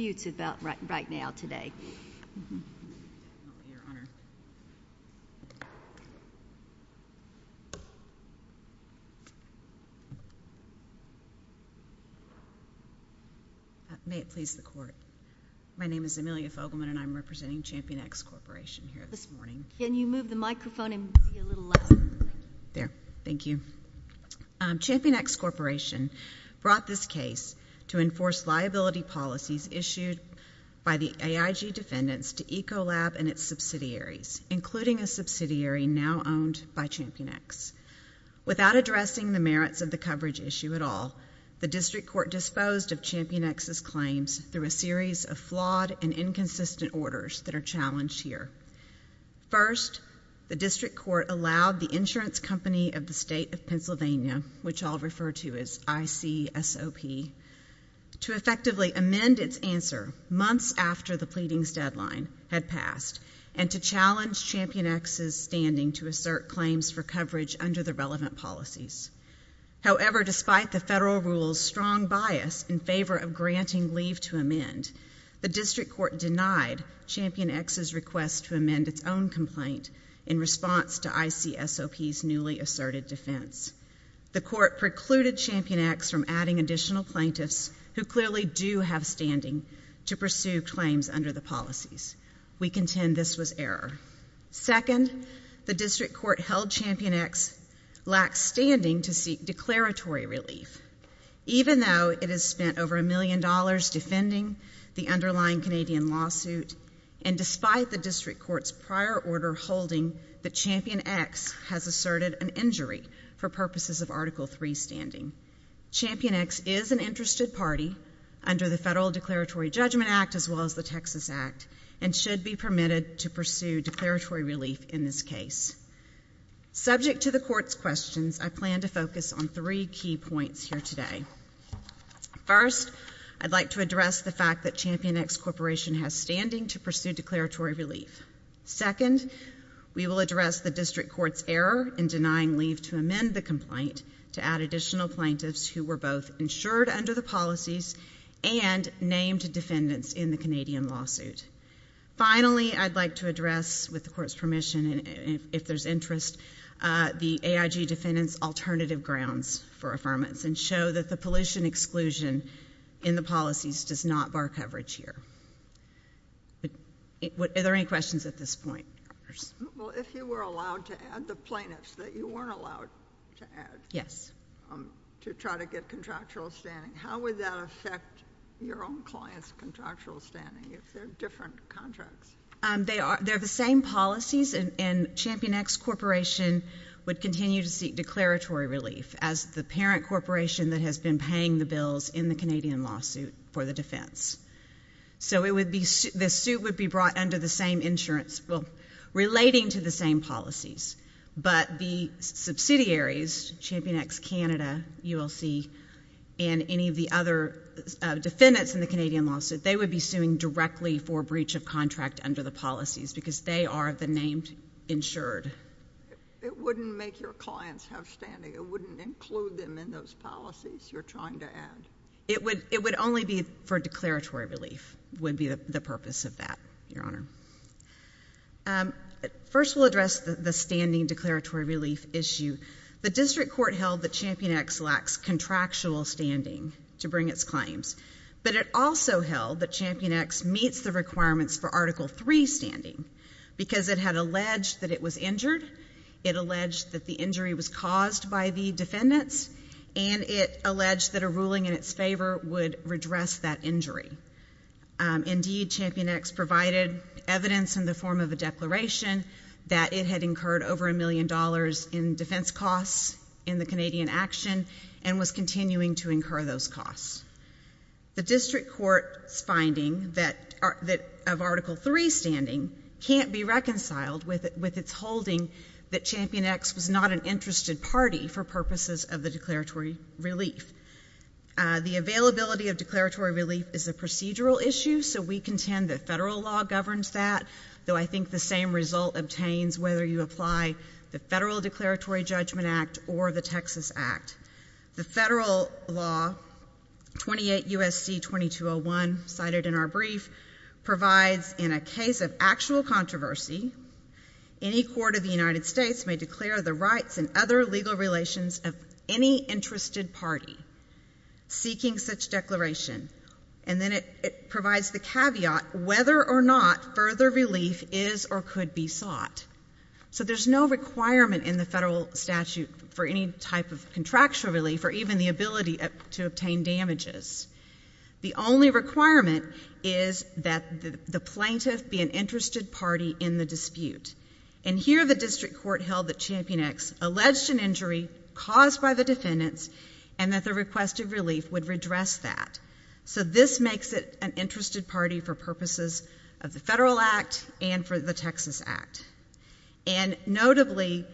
ChampionX Corporation brought this case to enforce liability policies issued by the AIG defendants to Ecolab and its subsidiaries, including a subsidiary now owned by ChampionX. Without addressing the merits of the coverage issue at all, the District Court disposed of ChampionX's claims through a series of flawed and inconsistent orders that are challenged here. First, the District Court allowed the insurance company of the State of Pennsylvania, which I refer to as ICSOP, to effectively amend its answer months after the pleadings deadline had passed and to challenge ChampionX's standing to assert claims for coverage under the relevant policies. However, despite the federal rule's strong bias in favor of granting leave to amend, the District Court denied ChampionX's request to amend its own complaint in response to ICSOP's newly asserted defense. The Court precluded ChampionX from adding additional plaintiffs who clearly do have standing to pursue claims under the policies. We contend this was error. Second, the District Court held ChampionX lacked standing to seek declaratory relief. Even though it has spent over a million dollars defending the underlying Canadian lawsuit and despite the District Court's prior order holding that ChampionX has asserted an injury for purposes of Article III standing, ChampionX is an interested party under the Federal Declaratory Judgment Act as well as the Texas Act and should be permitted to pursue declaratory relief in this case. Subject to the Court's questions, I plan to focus on three key points here today. First, I'd like to address the fact that ChampionX Corporation has standing to pursue declaratory relief. Second, we will address the District Court's error in denying leave to amend the complaint to add additional plaintiffs who were both insured under the policies and named defendants in the Canadian lawsuit. Finally, I'd like to address, with the Court's permission, if there's interest, the AIG defendants' alternative grounds for affirmance and show that the pollution exclusion in the policies does not bar coverage here. Are there any questions at this point? Well, if you were allowed to add the plaintiffs that you weren't allowed to add to try to get contractual standing, how would that affect your own client's contractual standing if they're different contracts? They're the same policies and ChampionX Corporation would continue to seek declaratory relief as the parent corporation that has been paying the bills in the Canadian lawsuit for the defense. So the suit would be brought under the same insurance, well, relating to the same policies. But the subsidiaries, ChampionX Canada, ULC, and any of the other defendants in the Canadian lawsuit, they would be suing directly for breach of contract under the policies because they are the named insured. It wouldn't make your clients have standing. It wouldn't include them in those policies you're trying to add. It would only be for declaratory relief would be the purpose of that, Your Honor. First we'll address the standing declaratory relief issue. The district court held that ChampionX lacks contractual standing to bring its claims, but it also held that ChampionX meets the requirements for Article III standing because it had alleged that it was injured. It alleged that the injury was caused by the defendants, and it alleged that a ruling in its favor would redress that injury. Indeed, ChampionX provided evidence in the form of a declaration that it had incurred over a million dollars in defense costs in the Canadian action and was continuing to incur those costs. The district court's finding of Article III standing can't be reconciled with its holding that ChampionX was not an interested party for purposes of the declaratory relief. The availability of declaratory relief is a procedural issue, so we contend that federal law governs that, though I think the same result obtains whether you apply the Federal Declaratory Judgment Act or the Texas Act. The federal law, 28 U.S.C. 2201, cited in our brief, provides in a case of actual controversy, any court of the United States may declare the rights and other legal relations of any interested party seeking such declaration, and then it provides the caveat whether or not further relief is or could be sought. So there's no requirement in the federal statute for any type of contractual relief or even the ability to obtain damages. The only requirement is that the plaintiff be an interested party in the dispute. And here the district court held that ChampionX alleged an injury caused by the defendants and that the request of relief would redress that. So this makes it an interested party for purposes of the Federal Act and for the Texas Act. And notably,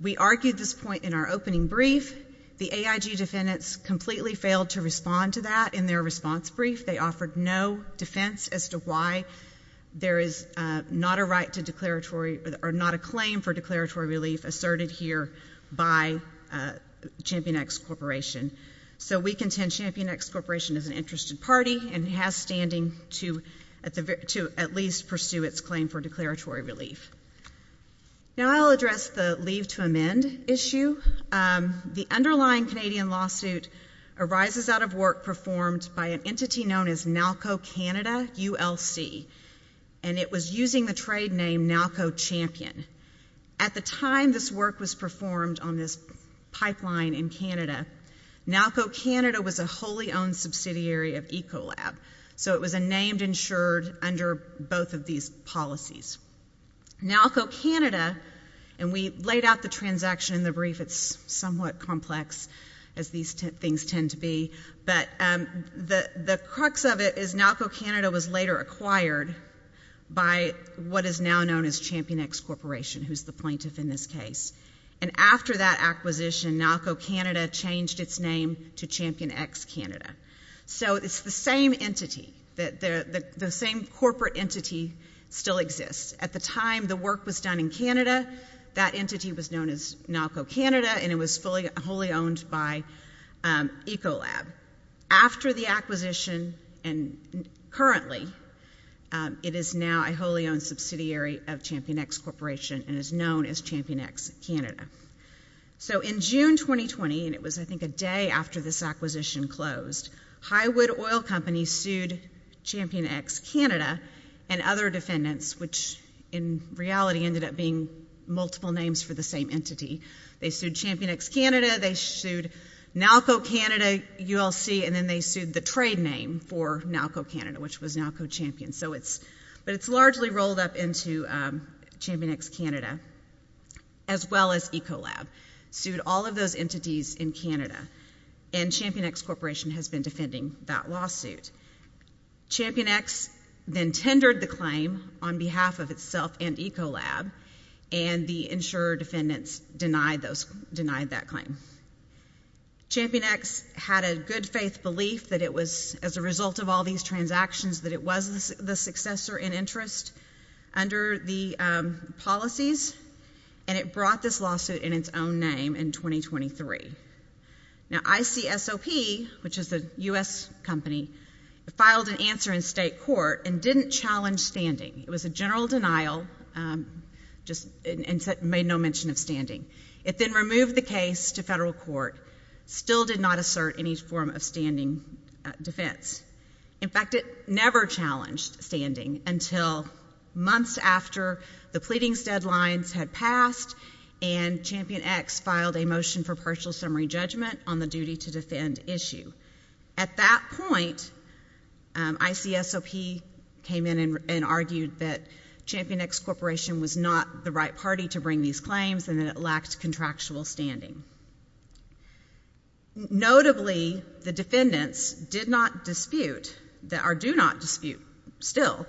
we argued this point in our opening brief, the AIG defendants completely failed to respond to that in their response brief. They offered no defense as to why there is not a right to declaratory or not a claim for declaratory relief asserted here by ChampionX Corporation. So we contend ChampionX Corporation is an interested party and has standing to at least pursue its claim for declaratory relief. Now I'll address the leave to amend issue. The underlying Canadian lawsuit arises out of work performed by an entity known as NALCO Canada, ULC. And it was using the trade name NALCO Champion. At the time this work was performed on this pipeline in Canada, NALCO Canada was a wholly owned subsidiary of Ecolab. So it was a named insured under both of these policies. NALCO Canada, and we laid out the transaction in the brief, it's somewhat complex as these things tend to be, but the crux of it is NALCO Canada was later acquired by what is now known as ChampionX Corporation, who's the plaintiff in this case. And after that acquisition, NALCO Canada changed its name to ChampionX Canada. So it's the same entity, the same corporate entity still exists. At the time the work was done in Canada, that entity was known as NALCO Canada and it was fully wholly owned by Ecolab. After the acquisition and currently, it is now a wholly owned subsidiary of ChampionX Corporation and is known as ChampionX Canada. So in June 2020, and it was I think a day after this acquisition closed, Highwood Oil Company sued ChampionX Canada and other defendants, which in reality ended up being multiple names for the same entity. They sued ChampionX Canada, they sued NALCO Canada, ULC, and then they sued the trade name for NALCO Canada, which was NALCO Champion. So it's, but it's largely rolled up into ChampionX Canada as well as Ecolab, sued all of those entities in Canada and ChampionX Corporation has been defending that lawsuit. ChampionX then tendered the claim on behalf of itself and Ecolab and the insurer defendants denied those, denied that claim. ChampionX had a good faith belief that it was as a result of all these transactions that it was the successor in interest under the policies and it brought this lawsuit in its own name in 2023. Now ICSOP, which is the U.S. company, filed an answer in state court and didn't challenge standing. It was a general denial, just made no mention of standing. It then removed the case to federal court, still did not assert any form of standing defense. In fact, it never challenged standing until months after the pleadings deadlines had passed and ChampionX filed a motion for partial summary judgment on the duty to defend issue. At that point, ICSOP came in and argued that ChampionX Corporation was not the right party to bring these claims and that it lacked contractual standing. Notably, the defendants did not dispute, or do not dispute still,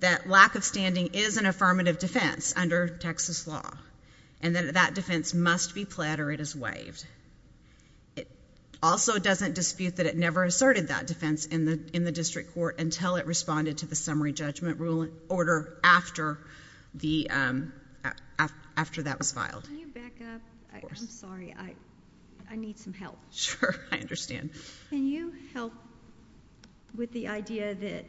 that lack of standing is an affirmative defense under Texas law and that that defense must be pled or it is It also doesn't dispute that it never asserted that defense in the district court until it responded to the summary judgment ruling order after that was filed. Can you back up? Of course. I'm sorry. I need some help. Sure. I understand. Can you help with the idea that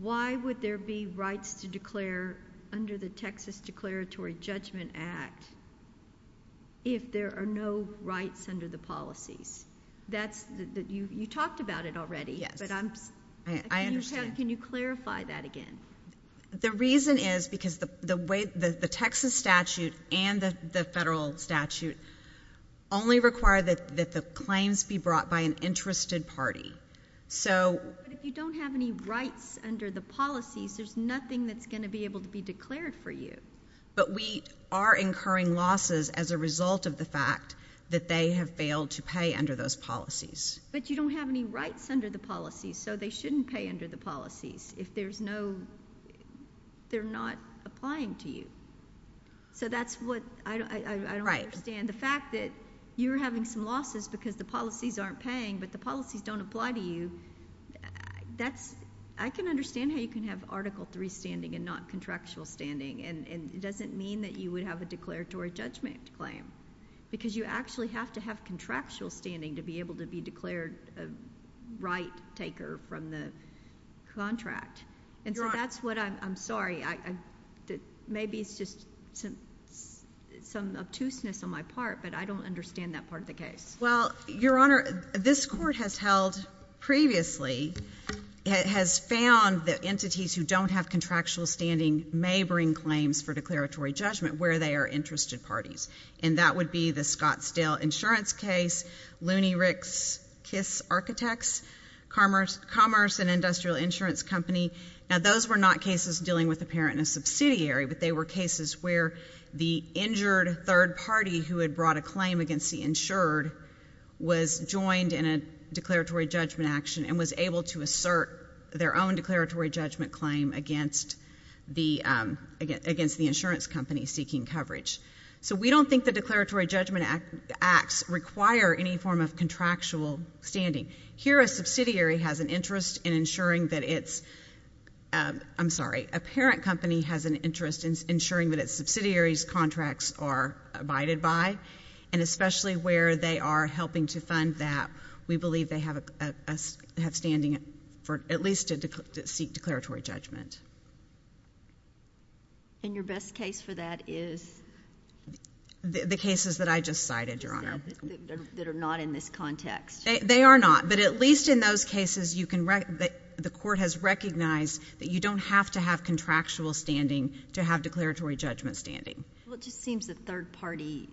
why would there be rights to declare under the Texas Declaratory Judgment Act if there are no rights under the policies? You talked about it already, but can you clarify that again? The reason is because the Texas statute and the federal statute only require that the claims be brought by an interested party. But if you don't have any rights under the policies, there's nothing that's going to be able to be declared for you. But we are incurring losses as a result of the fact that they have failed to pay under those policies. But you don't have any rights under the policies, so they shouldn't pay under the policies if there's no... they're not applying to you. So that's what... I don't understand the fact that you're having some losses because the policies aren't paying, but the policies don't apply to you. I can understand how you can have Article III standing and not contractual standing, and it doesn't mean that you would have a declaratory judgment claim, because you actually have to have contractual standing to be able to be declared a right-taker from the contract. And so that's what I'm... I'm sorry. Maybe it's just some obtuseness on my part, but I don't understand that part of the case. Well, Your Honor, this Court has held previously... has found that entities who don't have contractual standing may bring claims for declaratory judgment where they are interested parties. And that would be the Scottsdale Insurance case, Looney Rick's Kiss Architects, Commerce and Industrial Insurance Company. Now, those were not cases dealing with a parent and a subsidiary, but they were cases where the injured third party who had brought a claim against the insured was joined in a declaratory judgment action and was able to assert their own declaratory judgment claim against the insurance company seeking coverage. So we don't think the declaratory judgment acts require any form of contractual standing. Here a subsidiary has an interest in ensuring that it's... I'm sorry. A parent company has an interest in ensuring that its subsidiary's contracts are abided by, and especially where they are helping to fund that, we believe they have standing for at least to seek declaratory judgment. And your best case for that is... The cases that I just cited, Your Honor. That are not in this context. They are not, but at least in those cases you can... the Court has recognized that you don't have to have contractual standing to have declaratory judgment standing. Well, it just seems the third party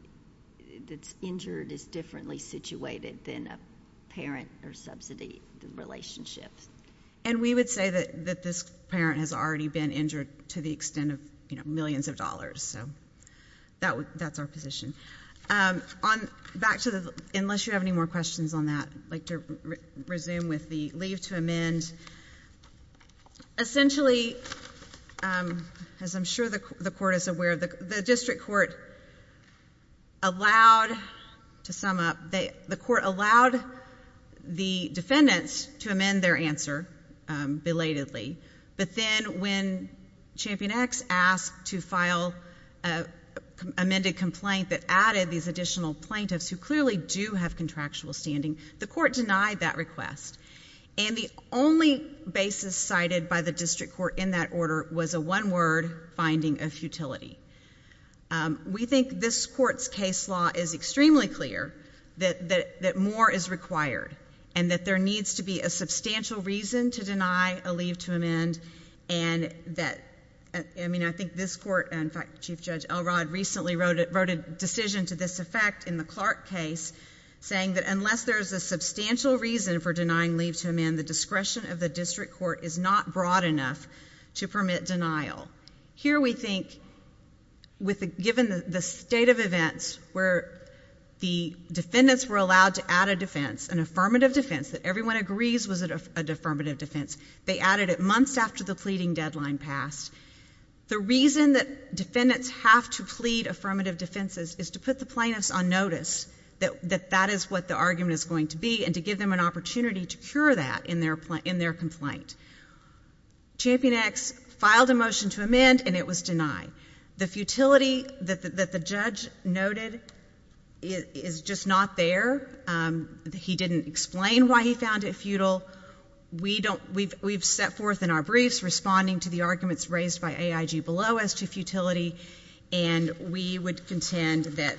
that's injured is differently situated than a parent or subsidy relationship. And we would say that this parent has already been injured to the extent of, you know, millions of dollars, so that's our position. Back to the... Unless you have any more questions on that, I'd like to resume with the leave to amend. Essentially, as I'm sure the Court is aware of, the District Court allowed, to sum up, the Court allowed the defendants to amend their answer belatedly, but then when Champion X asked to file an amended complaint that added these additional plaintiffs who clearly do have contractual standing, the Court denied that request. And the only basis cited by the District Court in that order was a one-word finding of futility. We think this Court's case law is extremely clear that more is required and that there needs to be a substantial reason to deny a leave to amend and that... I mean, I think this Court... in fact, Chief Judge Elrod recently wrote a decision to this effect in the Clark case saying that unless there's a substantial reason for denying leave to amend, the discretion of the District Court is not broad enough to permit denial. Here we think, given the state of events where the defendants were allowed to add a defense, an affirmative defense that everyone agrees was an affirmative defense, they added it months after the pleading deadline passed. The reason that defendants have to plead affirmative defenses is to put the plaintiffs on notice that that is what the argument is going to be and to give them an opportunity to cure that in their complaint. Champion X filed a motion to amend and it was denied. The futility that the judge noted is just not there. He didn't explain why he found it futile. We don't... we've set forth in our briefs responding to the arguments raised by AIG below as to futility, and we would contend that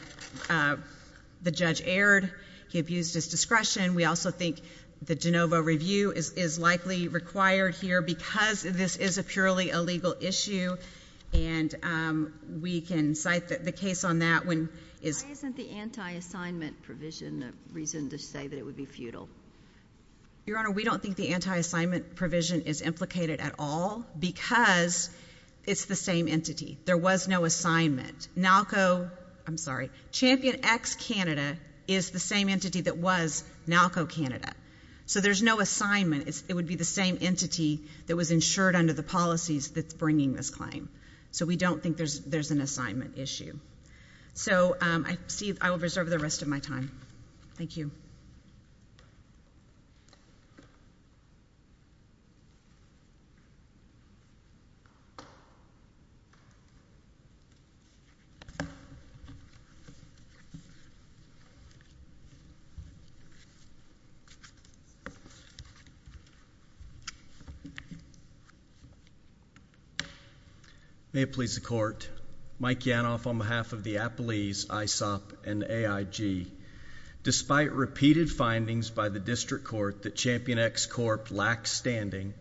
the judge erred, he abused his discretion. We also think the de novo review is likely required here because this is a purely illegal issue and we can cite the case on that when... Why isn't the anti-assignment provision a reason to say that it would be futile? Your Honor, we don't think the anti-assignment provision is implicated at all because it's the same entity. There was no assignment. NALCO... I'm sorry, Champion X Canada is the same entity that was NALCO Canada. So there's no assignment. It would be the same entity that was insured under the policies that's bringing this claim. So we don't think there's an assignment issue. So I see... I will reserve the rest of my time. Thank you. May it please the Court, Mike Yanov on behalf of the appellees ISOP and AIG, despite repeated findings by the district court that Champion X Corp. lacked standing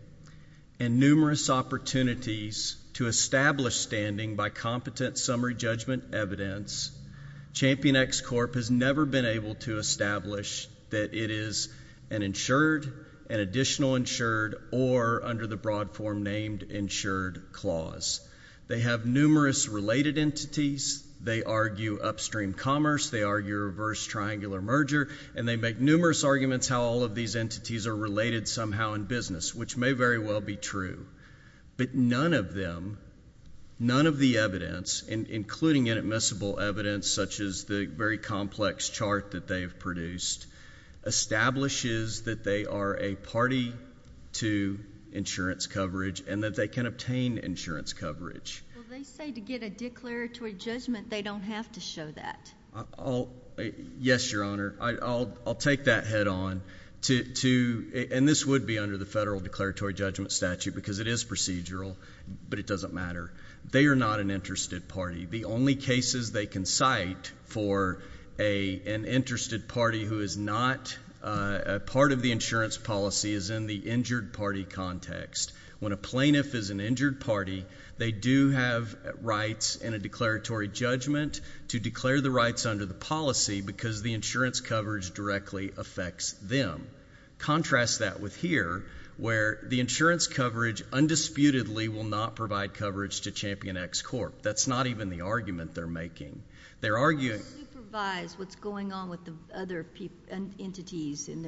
and numerous opportunities to establish standing by competent summary judgment evidence, Champion X Corp. has never been able to establish that it is an insured, an additional insured, or under the broad form named insured clause. They have numerous related entities. They argue upstream commerce. They argue reverse triangular merger. And they make numerous arguments how all of these entities are related somehow in business, which may very well be true. But none of them, none of the evidence, including inadmissible evidence such as the very complex chart that they have produced, establishes that they are a party to insurance coverage and that they can obtain insurance coverage. Well, they say to get a declaratory judgment, they don't have to show that. Yes, Your Honor, I'll take that head-on to... and this would be under the federal declaratory judgment statute because it is procedural, but it doesn't matter. They are not an interested party. The only cases they can cite for an interested party who is not a part of the insurance policy is in the injured party context. When a plaintiff is an injured party, they do have rights in a declaratory judgment to declare the rights under the policy because the insurance coverage directly affects them. Contrast that with here, where the insurance coverage undisputedly will not provide coverage to Champion X Corp. That's not even the argument they're making. They're arguing... They don't supervise what's going on with the other entities in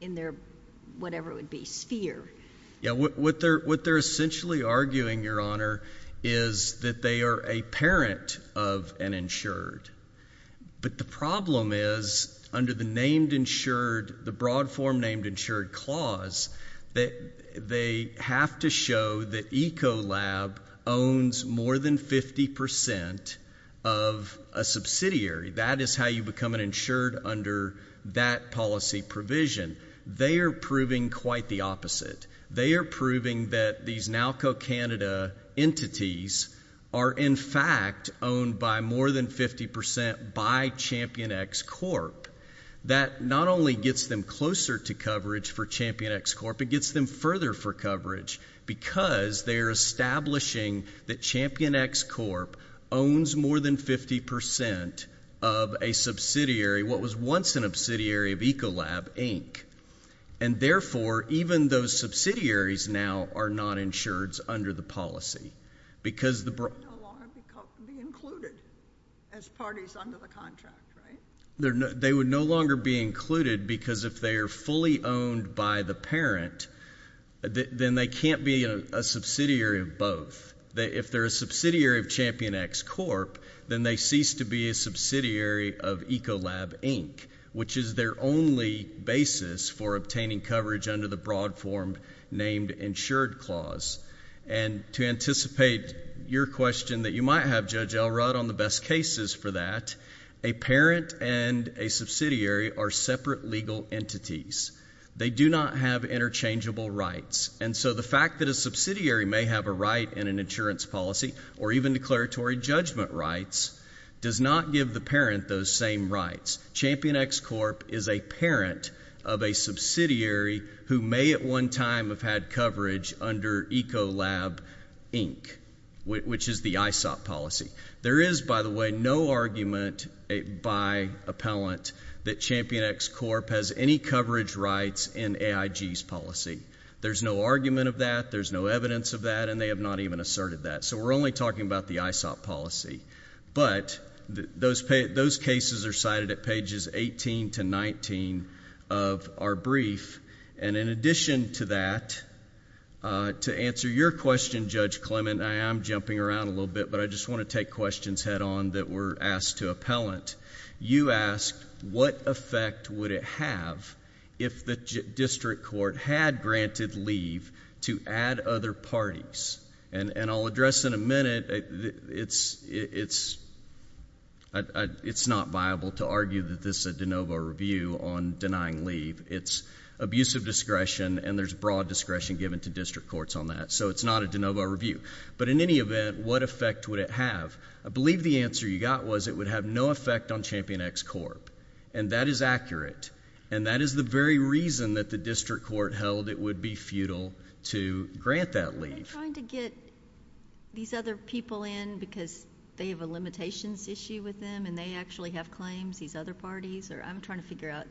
their, whatever it would be, sphere. Yeah, what they're essentially arguing, Your Honor, is that they are a parent of an insured. But the problem is, under the named insured, the broad form named insured clause, that they have to show that Ecolab owns more than 50% of a subsidiary. That is how you become an insured under that policy provision. They are proving quite the opposite. They are proving that these NALCO Canada entities are, in fact, owned by more than 50% by Champion X Corp. That not only gets them closer to coverage for Champion X Corp., it gets them further for coverage because they're establishing that Champion X Corp. owns more than 50% of a subsidiary, what was once an obsidiary of Ecolab, Inc. And therefore, even those subsidiaries now are not insureds under the policy because the broad... They would no longer be included as parties under the contract, right? They would no longer be included because if they are fully owned by the parent, then they can't be a subsidiary of both. If they're a subsidiary of Champion X Corp., then they cease to be a subsidiary of Ecolab, Inc., which is their only basis for obtaining coverage under the broad form named Insured Clause. And to anticipate your question that you might have, Judge Elrod, on the best cases for that, a parent and a subsidiary are separate legal entities. They do not have interchangeable rights. And so the fact that a subsidiary may have a right in an insurance policy or even declaratory judgment rights does not give the parent those same rights. Champion X Corp. is a parent of a subsidiary who may at one time have had coverage under Ecolab, Inc., which is the ISOP policy. There is, by the way, no argument by appellant that Champion X Corp. has any coverage rights in AIG's policy. There's no argument of that. There's no evidence of that, and they have not even asserted that. So we're only talking about the ISOP policy. But those cases are cited at pages 18 to 19 of our brief. And in addition to that, to answer your question, Judge Clement, I am jumping around a little bit, but I just want to take questions head on that were asked to appellant. You asked, what effect would it have if the district court had granted leave to add other parties? And I'll address in a minute, it's not viable to argue that this is a de novo review on denying leave. It's abusive discretion, and there's broad discretion given to district courts on that. So it's not a de novo review. But in any event, what effect would it have? I believe the answer you got was it would have no effect on Champion X Corp. And that is accurate. And that is the very reason that the district court held it would be futile to grant that leave. Are they trying to get these other people in because they have a limitations issue with them and they actually have claims, these other parties? Or I'm trying to figure out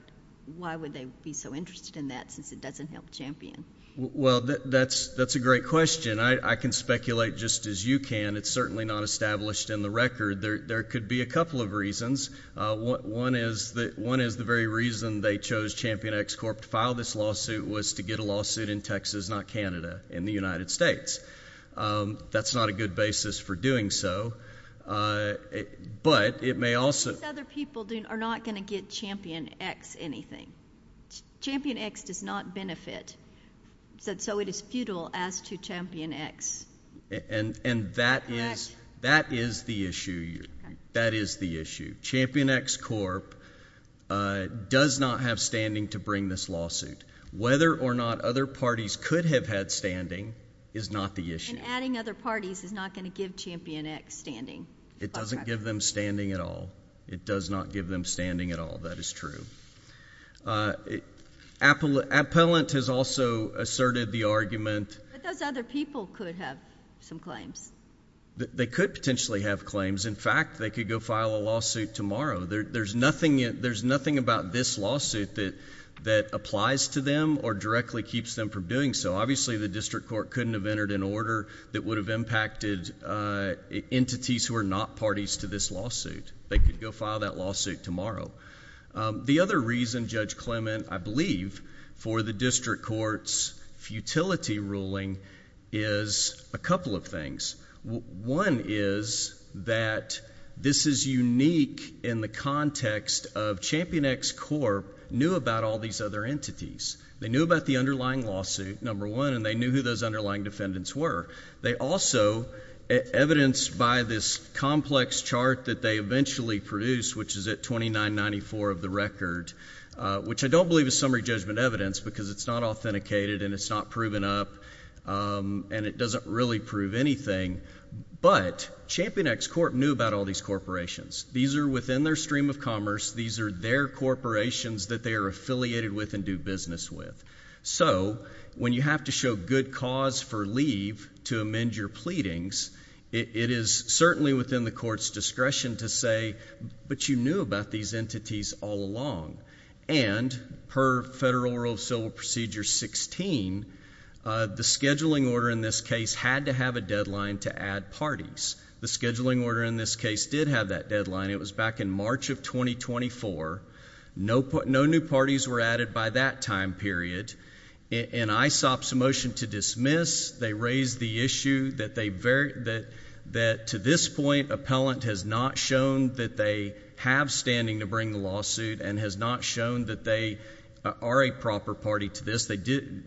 why would they be so interested in that since it doesn't help Champion? Well, that's a great question. I can speculate just as you can. It's certainly not established in the record. There could be a couple of reasons. One is the very reason they chose Champion X Corp. to file this lawsuit was to get a That's not a good basis for doing so. But it may also. These other people are not going to get Champion X anything. Champion X does not benefit. So it is futile as to Champion X. And that is the issue. That is the issue. Champion X Corp. does not have standing to bring this lawsuit. Whether or not other parties could have had standing is not the issue. And adding other parties is not going to give Champion X standing. It doesn't give them standing at all. It does not give them standing at all. That is true. Appellant has also asserted the argument. But those other people could have some claims. They could potentially have claims. In fact, they could go file a lawsuit tomorrow. There's nothing about this lawsuit that applies to them or directly keeps them from doing so. Obviously, the District Court couldn't have entered an order that would have impacted entities who are not parties to this lawsuit. They could go file that lawsuit tomorrow. The other reason, Judge Clement, I believe, for the District Court's futility ruling is a couple of things. One is that this is unique in the context of Champion X Corp. knew about all these other entities. They knew about the underlying lawsuit, number one, and they knew who those underlying defendants were. They also, evidenced by this complex chart that they eventually produced, which is at 2994 of the record, which I don't believe is summary judgment evidence because it's not authenticated and it's not proven up, and it doesn't really prove anything, but Champion X Corp. knew about all these corporations. These are within their stream of commerce. These are their corporations that they are affiliated with and do business with. So when you have to show good cause for leave to amend your pleadings, it is certainly within the court's discretion to say, but you knew about these entities all along. And per Federal Rule of Civil Procedure 16, the scheduling order in this case had to have a deadline to add parties. The scheduling order in this case did have that deadline. It was back in March of 2024. No new parties were added by that time period. In ISOP's motion to dismiss, they raised the issue that to this point, appellant has not shown that they have standing to bring the lawsuit and has not shown that they are a proper party to this.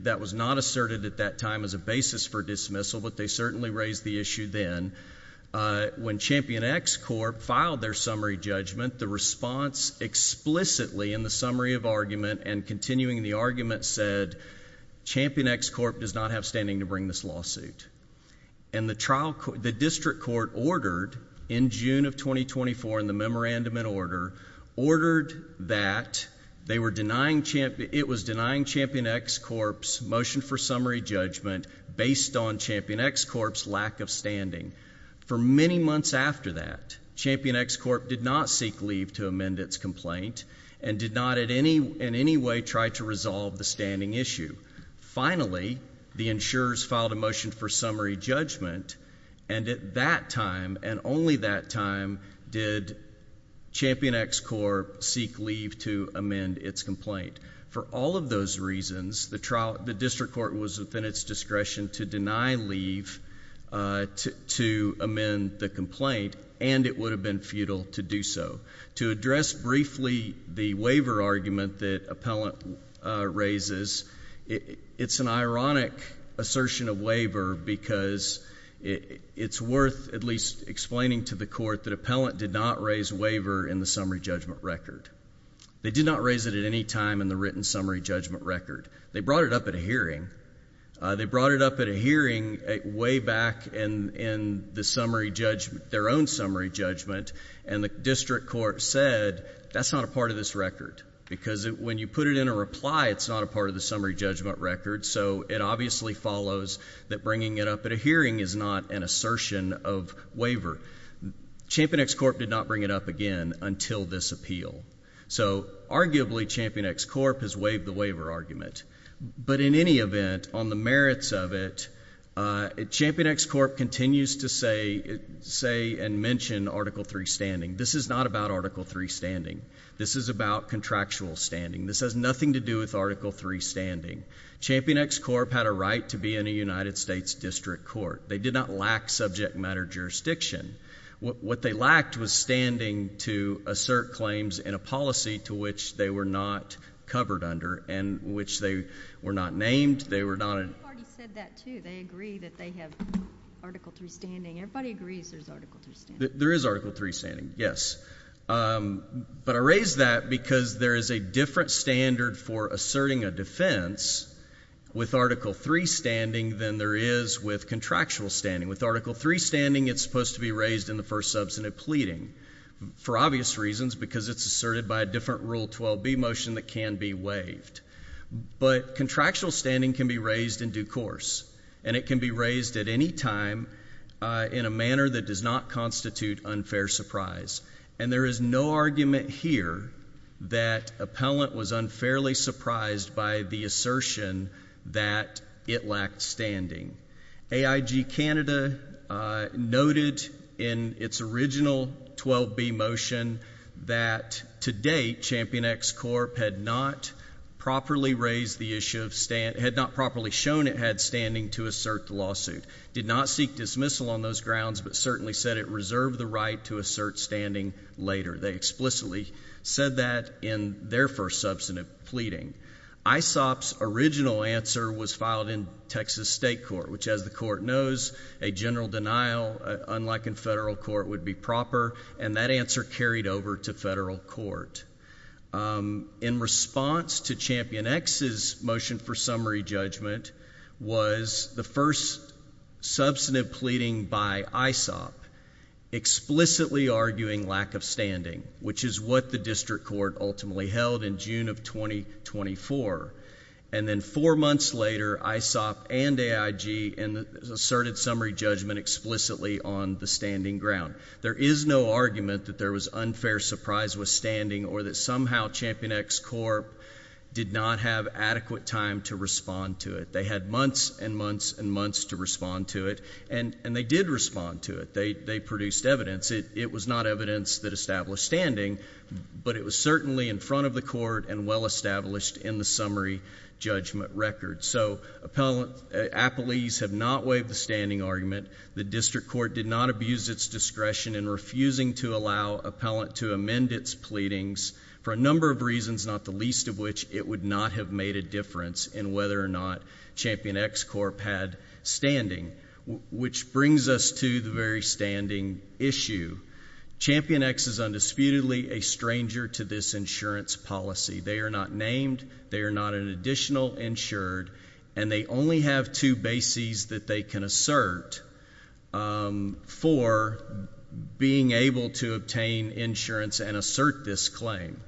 That was not asserted at that time as a basis for dismissal, but they certainly raised the issue then. When Champion X Corp. filed their summary judgment, the response explicitly in the summary of argument and continuing the argument said, Champion X Corp. does not have standing to bring this lawsuit. And the district court ordered in June of 2024 in the memorandum and order, ordered that they were denying, it was denying Champion X Corp.'s motion for summary judgment based on Champion X Corp.'s lack of standing. For many months after that, Champion X Corp. did not seek leave to amend its complaint and did not in any way try to resolve the standing issue. Finally, the insurers filed a motion for summary judgment and at that time and only that time did Champion X Corp. seek leave to amend its complaint. For all of those reasons, the district court was within its discretion to deny leave to amend the complaint and it would have been futile to do so. To address briefly the waiver argument that Appellant raises, it's an ironic assertion of waiver because it's worth at least explaining to the court that Appellant did not raise waiver in the summary judgment record. They did not raise it at any time in the written summary judgment record. They brought it up at a hearing. They brought it up at a hearing way back in the summary judgment, their own summary judgment, and the district court said, that's not a part of this record because when you put it in a reply, it's not a part of the summary judgment record. So it obviously follows that bringing it up at a hearing is not an assertion of waiver. Champion X Corp. did not bring it up again until this appeal. So arguably, Champion X Corp. has waived the waiver argument, but in any event, on the This is not about Article III standing. This is about contractual standing. This has nothing to do with Article III standing. Champion X Corp. had a right to be in a United States district court. They did not lack subject matter jurisdiction. What they lacked was standing to assert claims in a policy to which they were not covered under and which they were not named. They were not... We've already said that, too. They agree that they have Article III standing. Everybody agrees there's Article III standing. There is Article III standing, yes, but I raise that because there is a different standard for asserting a defense with Article III standing than there is with contractual standing. With Article III standing, it's supposed to be raised in the first substantive pleading for obvious reasons because it's asserted by a different Rule 12b motion that can be waived, but contractual standing can be raised in due course, and it can be raised at any time in a manner that does not constitute unfair surprise. And there is no argument here that Appellant was unfairly surprised by the assertion that it lacked standing. AIG Canada noted in its original 12b motion that, to date, Champion X Corp. had not properly raised the issue of... had not properly shown it had standing to assert the lawsuit, did not seek dismissal on those grounds, but certainly said it reserved the right to assert standing later. They explicitly said that in their first substantive pleading. ISOP's original answer was filed in Texas State Court, which, as the Court knows, a general denial, unlike in federal court, would be proper, and that answer carried over to federal court. In response to Champion X's motion for summary judgment was the first substantive pleading by ISOP explicitly arguing lack of standing, which is what the District Court ultimately held in June of 2024. And then four months later, ISOP and AIG asserted summary judgment explicitly on the standing ground. There is no argument that there was unfair surprise with standing or that somehow Champion X Corp. did not have adequate time to respond to it. They had months and months and months to respond to it, and they did respond to it. They produced evidence. It was not evidence that established standing, but it was certainly in front of the Court and well-established in the summary judgment record. So Appellees have not waived the standing argument. The District Court did not abuse its discretion in refusing to allow appellant to amend its pleadings for a number of reasons, not the least of which it would not have made a difference in whether or not Champion X Corp. had standing, which brings us to the very standing issue. Champion X is undisputedly a stranger to this insurance policy. They are not named. They are not an additional insured, and they only have two bases that they can assert for being able to obtain insurance and assert this claim.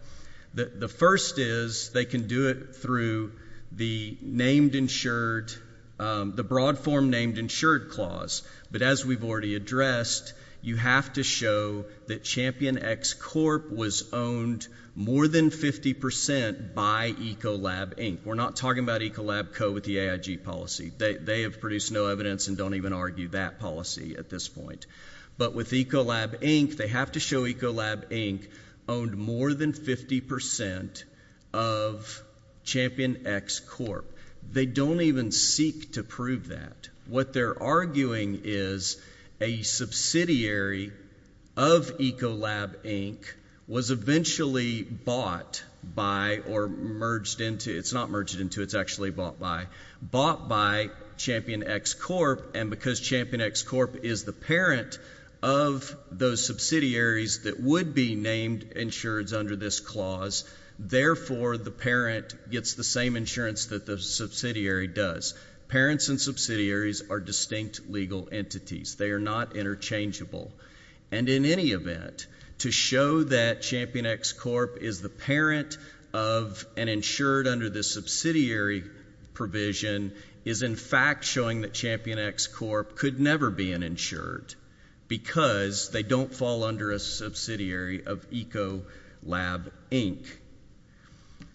The first is they can do it through the named insured, the broad form named insured clause. But as we've already addressed, you have to show that Champion X Corp. was owned more than 50% by Ecolab Inc. We're not talking about Ecolab Co. with the AIG policy. They have produced no evidence and don't even argue that policy at this point. But with Ecolab Inc., they have to show Ecolab Inc. owned more than 50% of Champion X Corp. They don't even seek to prove that. What they're arguing is a subsidiary of Ecolab Inc. was eventually bought by or merged into, it's not merged into, it's actually bought by. Bought by Champion X Corp. And because Champion X Corp. is the parent of those subsidiaries that would be named insureds under this clause. Therefore, the parent gets the same insurance that the subsidiary does. Parents and subsidiaries are distinct legal entities. They are not interchangeable. And in any event, to show that Champion X Corp. is the parent of an insured under this subsidiary provision is in fact showing that Champion X Corp. could never be an insured. Because they don't fall under a subsidiary of Ecolab Inc.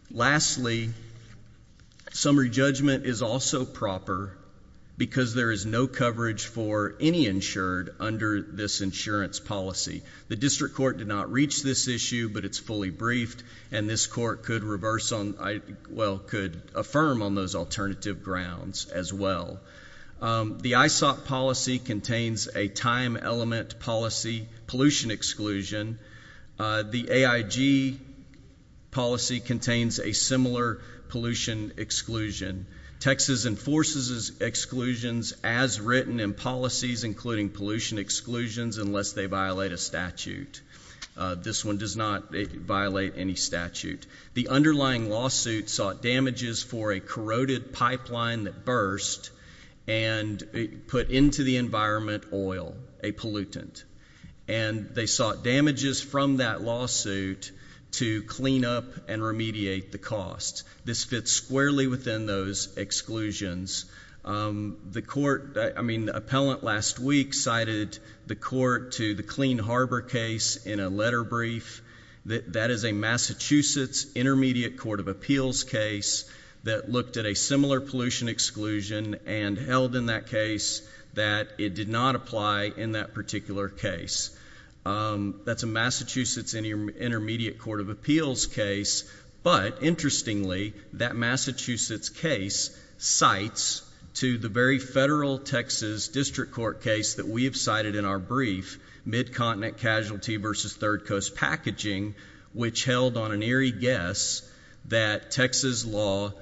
Lastly, summary judgment is also proper. Because there is no coverage for any insured under this insurance policy. The district court did not reach this issue, but it's fully briefed. And this court could reverse on, well, could affirm on those alternative grounds as well. The ISOC policy contains a time element policy pollution exclusion. The AIG policy contains a similar pollution exclusion. Texas enforces exclusions as written in policies including pollution exclusions unless they violate a statute. This one does not violate any statute. The underlying lawsuit sought damages for a corroded pipeline that burst and put into the environment oil, a pollutant. And they sought damages from that lawsuit to clean up and remediate the cost. This fits squarely within those exclusions. The court, I mean, the appellant last week cited the court to the Clean Harbor case in a letter brief. That is a Massachusetts Intermediate Court of Appeals case that looked at a similar pollution exclusion and held in that case that it did not apply in that particular case. That's a Massachusetts Intermediate Court of Appeals case, but interestingly, that Massachusetts case cites to the very federal Texas district court case that we have cited in our brief, Mid-Continent Casualty versus Third Coast Packaging, which held on an eerie guess that Texas law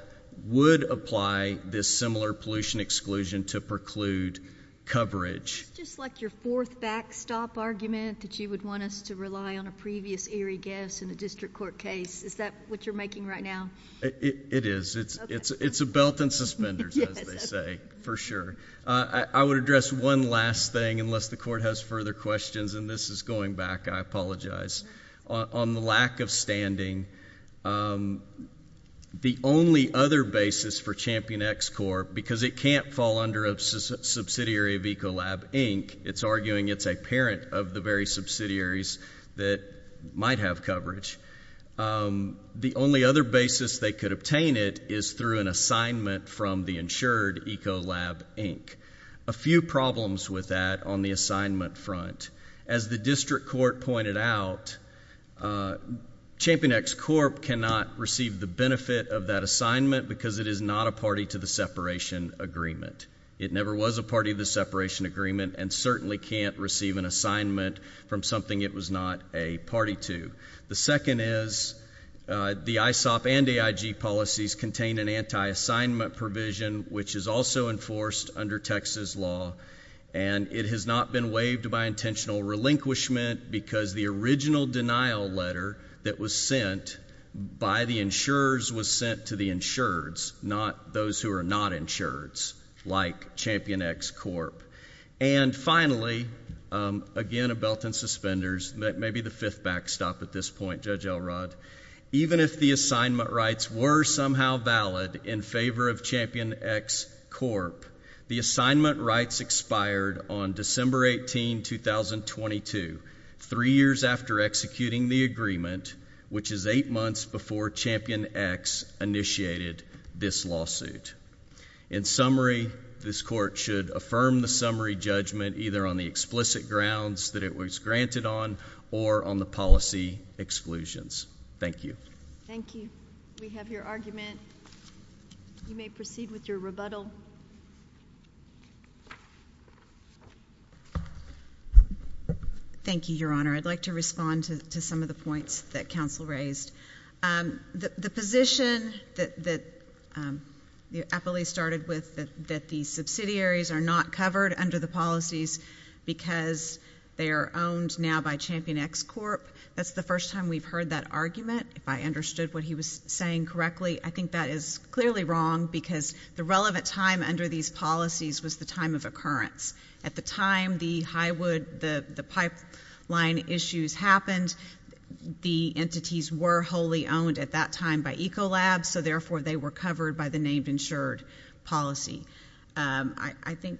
would apply this similar pollution exclusion to preclude coverage. Just like your fourth backstop argument that you would want us to rely on a previous eerie guess in a district court case. Is that what you're making right now? It is. It's a belt and suspenders, as they say, for sure. I would address one last thing, unless the court has further questions, and this is going back, I apologize. On the lack of standing, the only other basis for Champion-X Corp, because it can't fall under a subsidiary of Ecolab Inc. It's arguing it's a parent of the very subsidiaries that might have coverage. The only other basis they could obtain it is through an assignment from the insured Ecolab Inc. A few problems with that on the assignment front. As the district court pointed out, Champion-X Corp cannot receive the benefit of that assignment because it is not a party to the separation agreement. It never was a party to the separation agreement, and certainly can't receive an assignment from something it was not a party to. The second is, the ISOP and AIG policies contain an anti-assignment provision, which is also enforced under Texas law, and it has not been waived by intentional relinquishment, because the original denial letter that was sent by the insurers was sent to the insureds, not those who are not insureds, like Champion-X Corp. And finally, again, a belt and suspenders, maybe the fifth backstop at this point, Judge Elrod. Even if the assignment rights were somehow valid in favor of Champion-X Corp, the assignment rights expired on December 18, 2022, three years after executing the agreement, which is eight months before Champion-X initiated this lawsuit. In summary, this court should affirm the summary judgment either on the explicit grounds that it was granted on, or on the policy exclusions. Thank you. Thank you. We have your argument. You may proceed with your rebuttal. Thank you, Your Honor. I'd like to respond to some of the points that counsel raised. The position that the appellee started with, that the subsidiaries are not covered under the policies because they are owned now by Champion-X Corp. That's the first time we've heard that argument, if I understood what he was saying correctly. I think that is clearly wrong, because the relevant time under these policies was the time of occurrence. At the time the pipeline issues happened, the entities were wholly owned at that time by Ecolab, so therefore they were covered by the named insured policy. I think,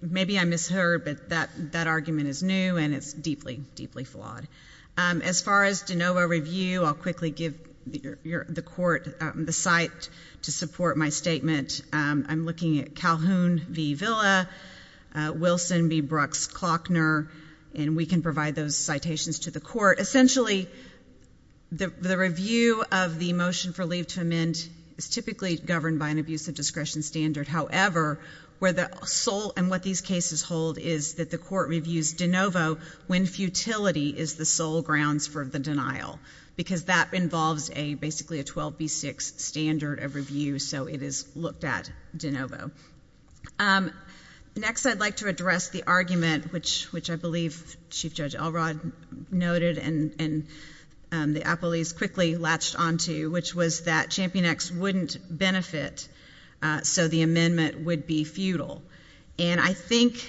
maybe I misheard, but that argument is new and it's deeply, deeply flawed. As far as DeNova review, I'll quickly give the court the site to support my statement. I'm looking at Calhoun v Villa, Wilson v Brooks-Clockner, and we can provide those citations to the court. Essentially, the review of the motion for leave to amend is typically governed by an abuse of discretion standard. However, where the sole, and what these cases hold, is that the court reviews DeNovo when futility is the sole grounds for the denial. Because that involves basically a 12B6 standard of review, so it is looked at DeNovo. Next, I'd like to address the argument, which I believe Chief Judge Elrod noted, and the appellees quickly latched on to, which was that Champion X wouldn't benefit, so the amendment would be futile. And I think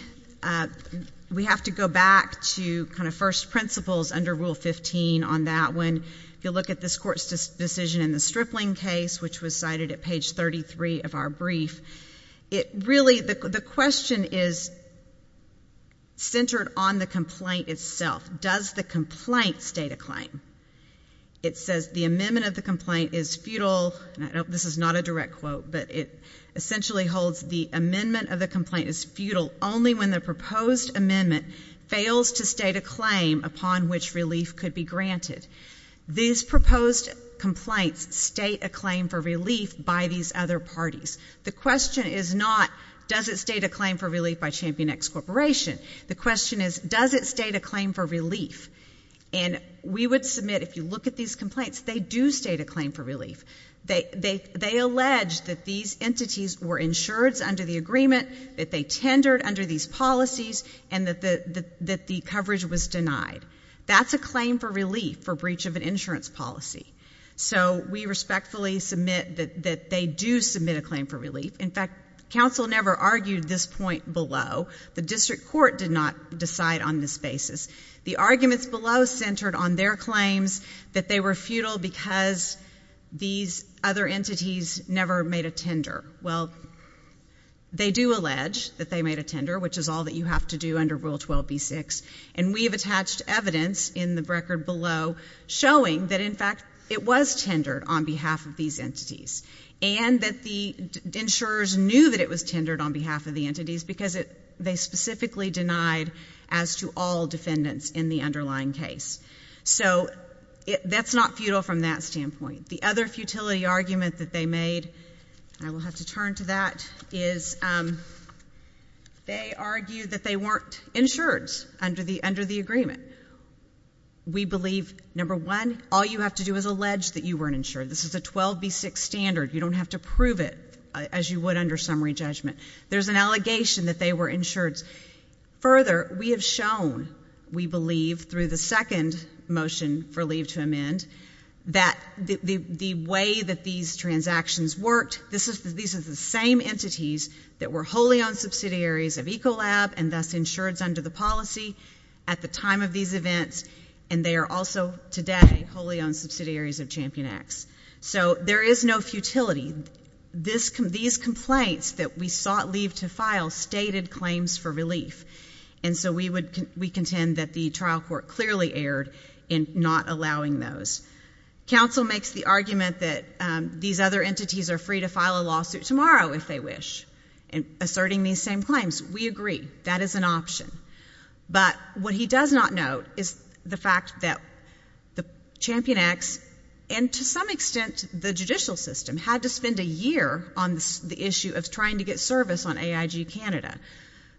we have to go back to kind of first principles under Rule 15 on that when you look at this court's decision in the Stripling case, which was cited at page 33 of our brief. It really, the question is centered on the complaint itself. Does the complaint state a claim? It says the amendment of the complaint is futile, and I know this is not a direct quote, but it essentially holds the amendment of the complaint is futile only when the proposed These proposed complaints state a claim for relief by these other parties. The question is not, does it state a claim for relief by Champion X Corporation? The question is, does it state a claim for relief? And we would submit, if you look at these complaints, they do state a claim for relief. They allege that these entities were insureds under the agreement, that they tendered under these policies, and that the coverage was denied. That's a claim for relief for breach of an insurance policy. So we respectfully submit that they do submit a claim for relief. In fact, council never argued this point below. The district court did not decide on this basis. The arguments below centered on their claims that they were futile because these other entities never made a tender. Well, they do allege that they made a tender, which is all that you have to do under Rule 12B6. And we have attached evidence in the record below showing that, in fact, it was tendered on behalf of these entities. And that the insurers knew that it was tendered on behalf of the entities because they specifically denied as to all defendants in the underlying case. So that's not futile from that standpoint. The other futility argument that they made, I will have to turn to that, is they argued that they weren't insureds under the agreement. We believe, number one, all you have to do is allege that you weren't insured. This is a 12B6 standard. You don't have to prove it as you would under summary judgment. There's an allegation that they were insureds. Further, we have shown, we believe, through the second motion for leave to amend, that the way that these transactions worked, these are the same entities that were wholly owned subsidiaries of Ecolab and thus insureds under the policy at the time of these events. And they are also today wholly owned subsidiaries of Champion X. So there is no futility. These complaints that we sought leave to file stated claims for relief. And so we contend that the trial court clearly erred in not allowing those. Council makes the argument that these other entities are free to file a lawsuit tomorrow if they wish, asserting these same claims. We agree, that is an option. But what he does not note is the fact that the Champion X, and to some extent the judicial system, had to spend a year on the issue of trying to get service on AIG Canada,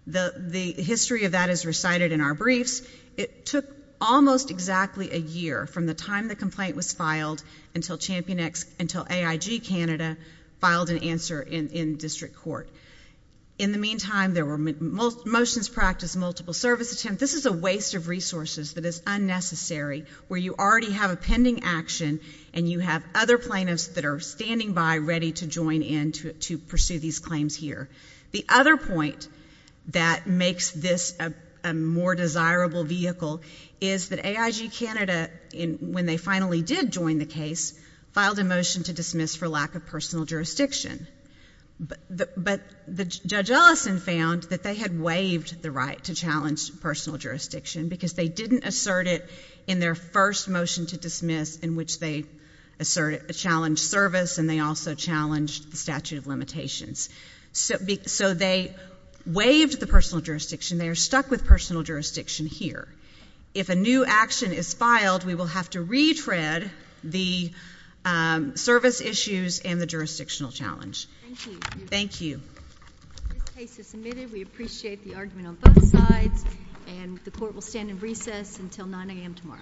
the history of that is recited in our briefs. It took almost exactly a year from the time the complaint was filed until Champion X, until AIG Canada filed an answer in district court. In the meantime, there were motions practiced, multiple service attempts. This is a waste of resources that is unnecessary, where you already have a pending action and you have other plaintiffs that are standing by ready to join in to pursue these claims here. The other point that makes this a more desirable vehicle is that AIG Canada, when they finally did join the case, filed a motion to dismiss for lack of personal jurisdiction. But Judge Ellison found that they had waived the right to challenge personal jurisdiction because they didn't assert it in their first motion to dismiss in which they asserted a challenge service and they also challenged the statute of limitations. So they waived the personal jurisdiction, they are stuck with personal jurisdiction here. If a new action is filed, we will have to retread the service issues and the jurisdictional challenge. Thank you. This case is submitted. We appreciate the argument on both sides and the court will stand in recess until 9 AM tomorrow.